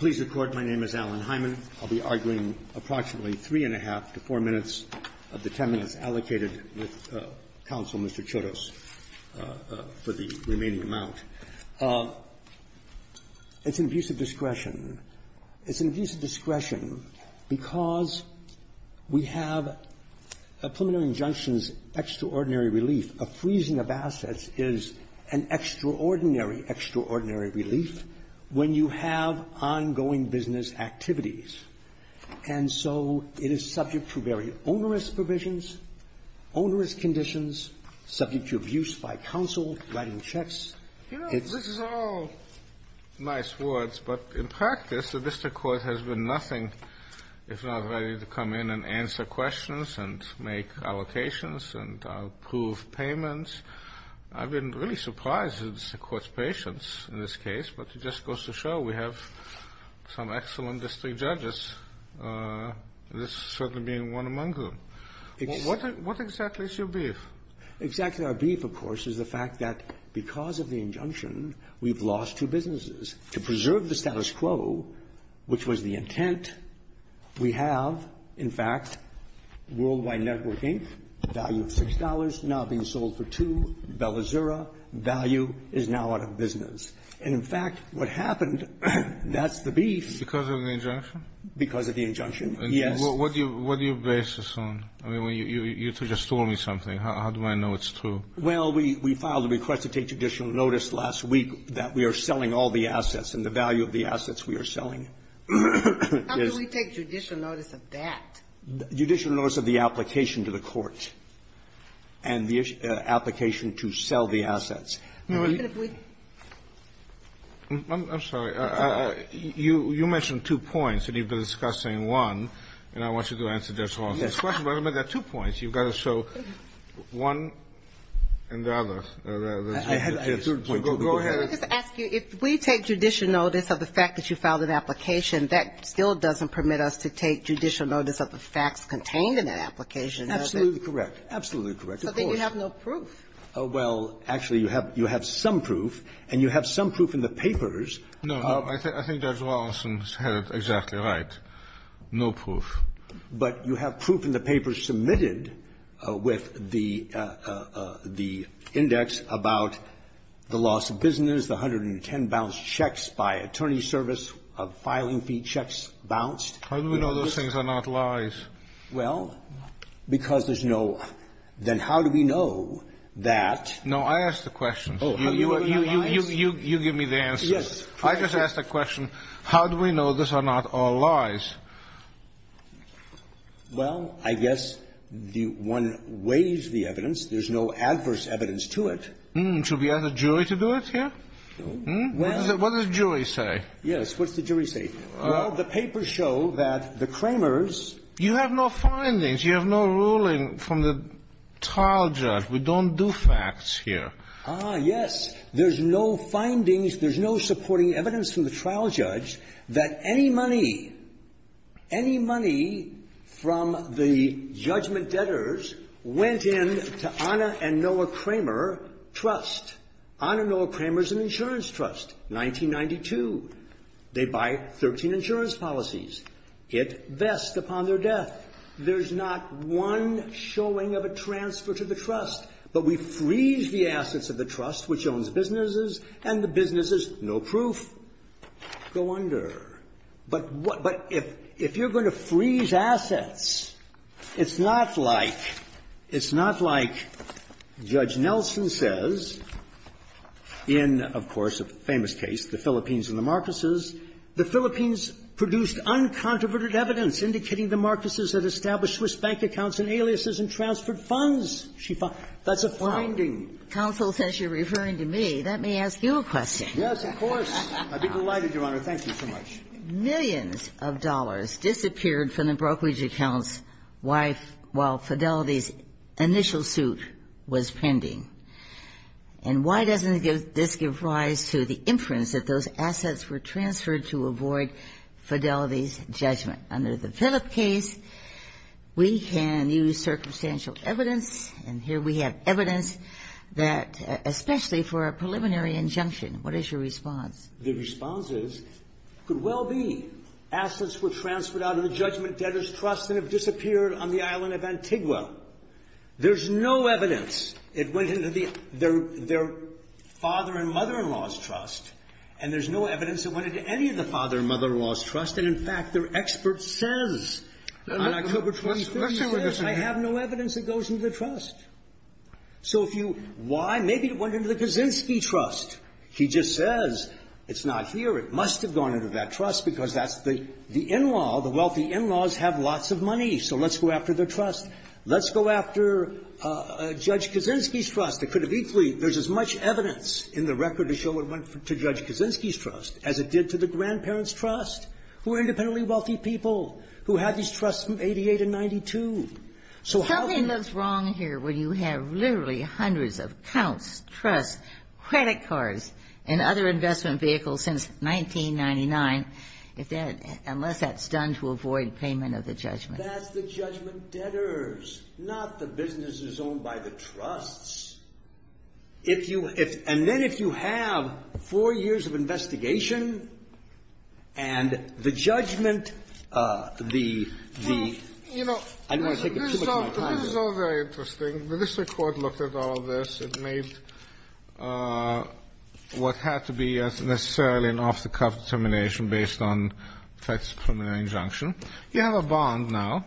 Please record my name is Alan Hyman. I'll be arguing approximately 3 1⁄2 to 4 minutes of the 10 minutes allocated with counsel, Mr. Chodos, for the remaining amount. It's an abuse of discretion. It's an abuse of discretion because we have a preliminary injunction's and extraordinary, extraordinary relief when you have ongoing business activities. And so it is subject to very onerous provisions, onerous conditions, subject to abuse by counsel, writing checks. It's all nice words, but in practice, the Vista Court has been nothing if not ready to come in and answer questions and make allocations and approve payments. I've been really surprised at the Court's patience in this case, but it just goes to show we have some excellent district judges, this certainly being one among them. What exactly is your beef? Exactly our beef, of course, is the fact that because of the injunction, we've lost two businesses. To preserve the status quo, which was the intent, we have, in fact, Worldwide Network, Inc., value of $6, now being sold for $2, Bella Zera, value is now out of business. And, in fact, what happened, that's the beef. Because of the injunction? Because of the injunction, yes. What do you base this on? I mean, you just told me something. How do I know it's true? Well, we filed a request to take judicial notice last week that we are selling all the assets and the value of the assets we are selling is ---- How do we take judicial notice of that? Judicial notice of the application to the court and the application to sell the assets. I'm sorry. You mentioned two points, and you've been discussing one, and I want you to answer this one. Yes. But there are two points. You've got to show one and the other. I had a third point. Go ahead. Can I just ask you, if we take judicial notice of the fact that you filed an application, that still doesn't permit us to take judicial notice of the facts contained in that application, does it? Absolutely correct. Absolutely correct. Of course. So then you have no proof. Well, actually, you have some proof, and you have some proof in the papers. No. I think Judge Wallinson had it exactly right. No proof. But you have proof in the papers submitted with the index about the loss of business, the 110 bounced checks by attorney's service of filing fee checks bounced. How do we know those things are not lies? Well, because there's no --"then how do we know that?" No. I asked the question. Oh. You give me the answer. Yes. I just asked the question, how do we know these are not all lies? Well, I guess the one weighs the evidence. There's no adverse evidence to it. Should we ask the jury to do it here? What does the jury say? Yes. What does the jury say? Well, the papers show that the Kramers ---- You have no findings. You have no ruling from the trial judge. We don't do facts here. Ah, yes. There's no findings. There's no supporting evidence from the trial judge that any money, any money from the judgment debtors went in to Anna and Noah Kramer Trust. Anna and Noah Kramer is an insurance trust, 1992. They buy 13 insurance policies. It vests upon their death. There's not one showing of a transfer to the trust. But we freeze the assets of the trust, which owns businesses, and the businesses, no proof, go under. But what ---- but if you're going to freeze assets, it's not like ---- it's not like Judge Nelson says, in, of course, a famous case, the Philippines and the Marcoses, the Philippines produced uncontroverted evidence indicating the Marcoses had established Swiss bank accounts and aliases and transferred funds. That's a finding. Counsel says you're referring to me. Let me ask you a question. Yes, of course. I'd be delighted, Your Honor. Thank you so much. Millions of dollars disappeared from the brokerage account's wife while Fidelity's initial suit was pending. And why doesn't this give rise to the inference that those assets were transferred to avoid Fidelity's judgment? Under the Philip case, we can use circumstantial evidence, and here we have evidence that, especially for a preliminary injunction, what is your response? The response is, could well be. Assets were transferred out of the Judgment Debtors Trust and have disappeared on the There's no evidence. It went into their father and mother-in-law's trust, and there's no evidence it went into any of the father and mother-in-law's trust. And, in fact, their expert says on October 26th, he says, I have no evidence it goes into the trust. So if you why, maybe it went into the Kaczynski trust. He just says, it's not here. It must have gone into that trust because that's the in-law, the wealthy in-laws have lots of money. So let's go after their trust. Let's go after Judge Kaczynski's trust. It could have equally been. There's as much evidence in the record to show it went to Judge Kaczynski's trust as it did to the grandparents' trust, who are independently wealthy people, who have these trusts from 88 and 92. So how can you do that? Something looks wrong here when you have literally hundreds of accounts, trusts, credit cards, and other investment vehicles since 1999, unless that's done to avoid payment of the judgment. That's the judgment debtors, not the businesses owned by the trusts. If you – and then if you have four years of investigation and the judgment, the – I don't want to take up too much of my time. This is all very interesting. The district court looked at all of this. It made what had to be, necessarily, an off-the-cuff determination based on a tax preliminary injunction. You have a bond now.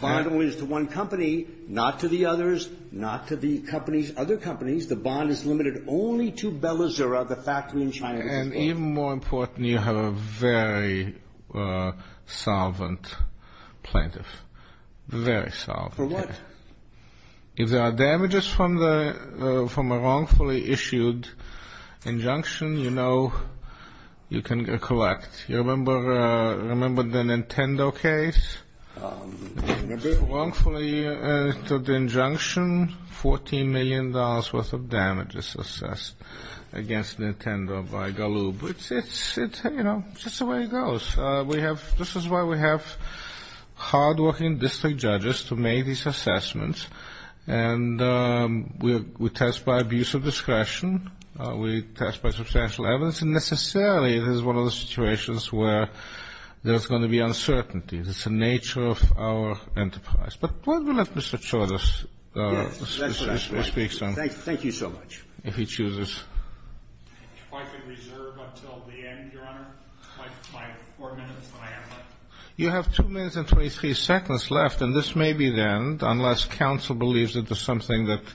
Bond only is to one company, not to the others, not to the companies – other companies. The bond is limited only to Bellazura, the factory in China. And even more important, you have a very solvent plaintiff, very solvent. For what? If there are damages from the – from a wrongfully issued injunction, you know you can collect. You remember the Nintendo case? Remember? Wrongfully issued injunction, $14 million worth of damages assessed against Nintendo by Galoob. It's – you know, it's just the way it goes. We have – this is why we have hardworking district judges to make these assessments. And we test by abuse of discretion. We test by substantial evidence. And this, necessarily, is one of the situations where there's going to be uncertainty. It's the nature of our enterprise. But why don't we let Mr. Chodos speak some? Mr. Chodos Yes, that's what I would like. Thank you so much. If he chooses. Mr. Chodos If I could reserve until the end, Your Honor, my four minutes, my answer. You have two minutes and 23 seconds left, and this may be the end, unless counsel believes that there's something that –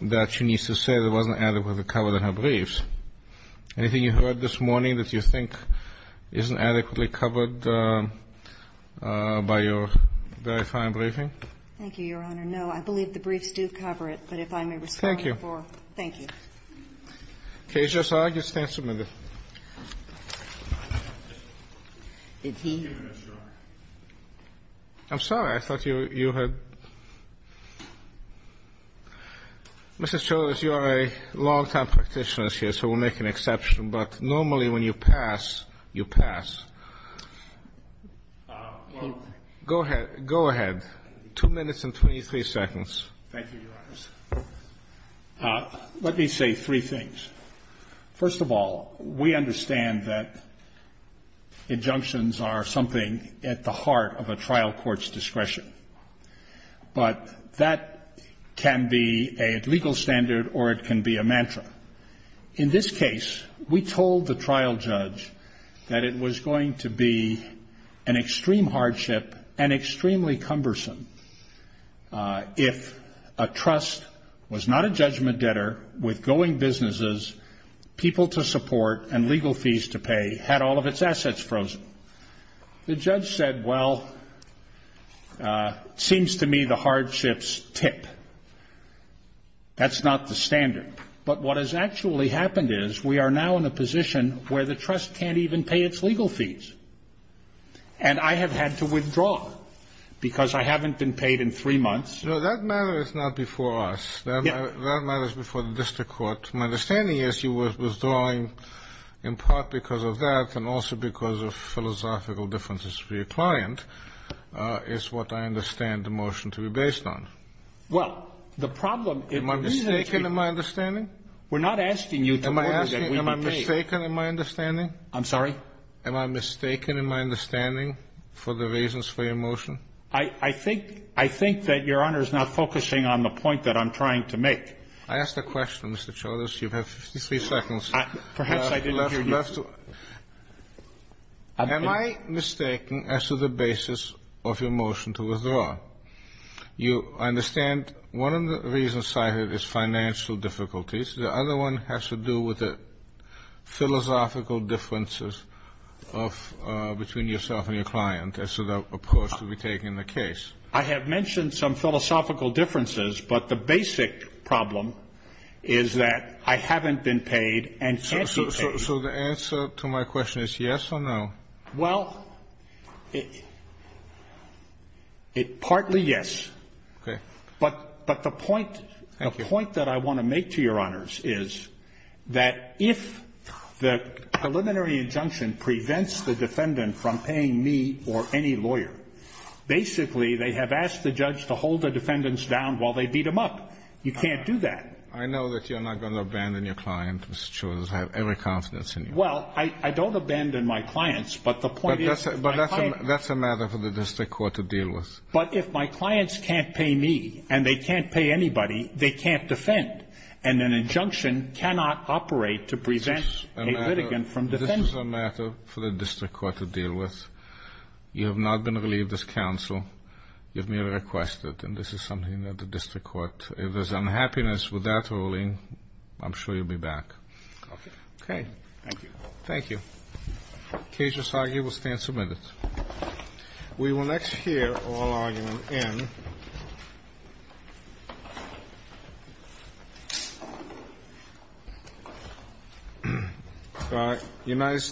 that she needs to say that wasn't adequately covered in her briefs. Anything you heard this morning that you think isn't adequately covered by your very fine briefing? Thank you, Your Honor. No, I believe the briefs do cover it. But if I may respond before – Thank you. Thank you. KJSR, you stand submitted. Did he? I'm sorry. I thought you had – Mr. Chodos, you are a long-time practitioner here, so we'll make an exception. But normally when you pass, you pass. Go ahead. Go ahead. Two minutes and 23 seconds. Thank you, Your Honors. Let me say three things. First of all, we understand that injunctions are something at the heart of a trial court's discretion. But that can be a legal standard or it can be a mantra. In this case, we told the trial judge that it was going to be an extreme hardship and extremely cumbersome if a trust was not a judgment debtor with going businesses, people to support, and legal fees to pay, had all of its assets frozen. The judge said, well, it seems to me the hardships tip. That's not the standard. But what has actually happened is we are now in a position where the trust can't even pay its legal fees. And I have had to withdraw because I haven't been paid in three months. No, that matter is not before us. That matter is before the district court. My understanding is you were withdrawing in part because of that and also because of philosophical differences for your client is what I understand the motion to be based on. Well, the problem is... Am I mistaken in my understanding? We're not asking you to... Am I mistaken in my understanding? I'm sorry? Am I mistaken in my understanding for the reasons for your motion? I think that Your Honor is not focusing on the point that I'm trying to make. I asked a question, Mr. Chodos. You have 53 seconds. Perhaps I didn't hear you. Am I mistaken as to the basis of your motion to withdraw? You understand one of the reasons cited is financial difficulties. The other one has to do with the philosophical differences between yourself and your client as to the approach to be taken in the case. I have mentioned some philosophical differences, but the basic problem is that I haven't been paid and can't be paid. So the answer to my question is yes or no? Well, partly yes. Okay. But the point that I want to make to Your Honors is that if the preliminary injunction prevents the defendant from paying me or any lawyer, basically they have asked the judge to hold the defendants down while they beat them up. You can't do that. I know that you're not going to abandon your client, Mr. Chodos. I have every confidence in you. Well, I don't abandon my clients, but the point is... But that's a matter for the district court to deal with. But if my clients can't pay me and they can't pay anybody, they can't defend. And an injunction cannot operate to prevent a litigant from defending. This is a matter for the district court to deal with. You have not been relieved as counsel. You have merely requested. And this is something that the district court, if there's unhappiness with that ruling, I'm sure you'll be back. Okay. Thank you. Thank you. The case of Sargi will stand submitted. We will next hear oral argument in.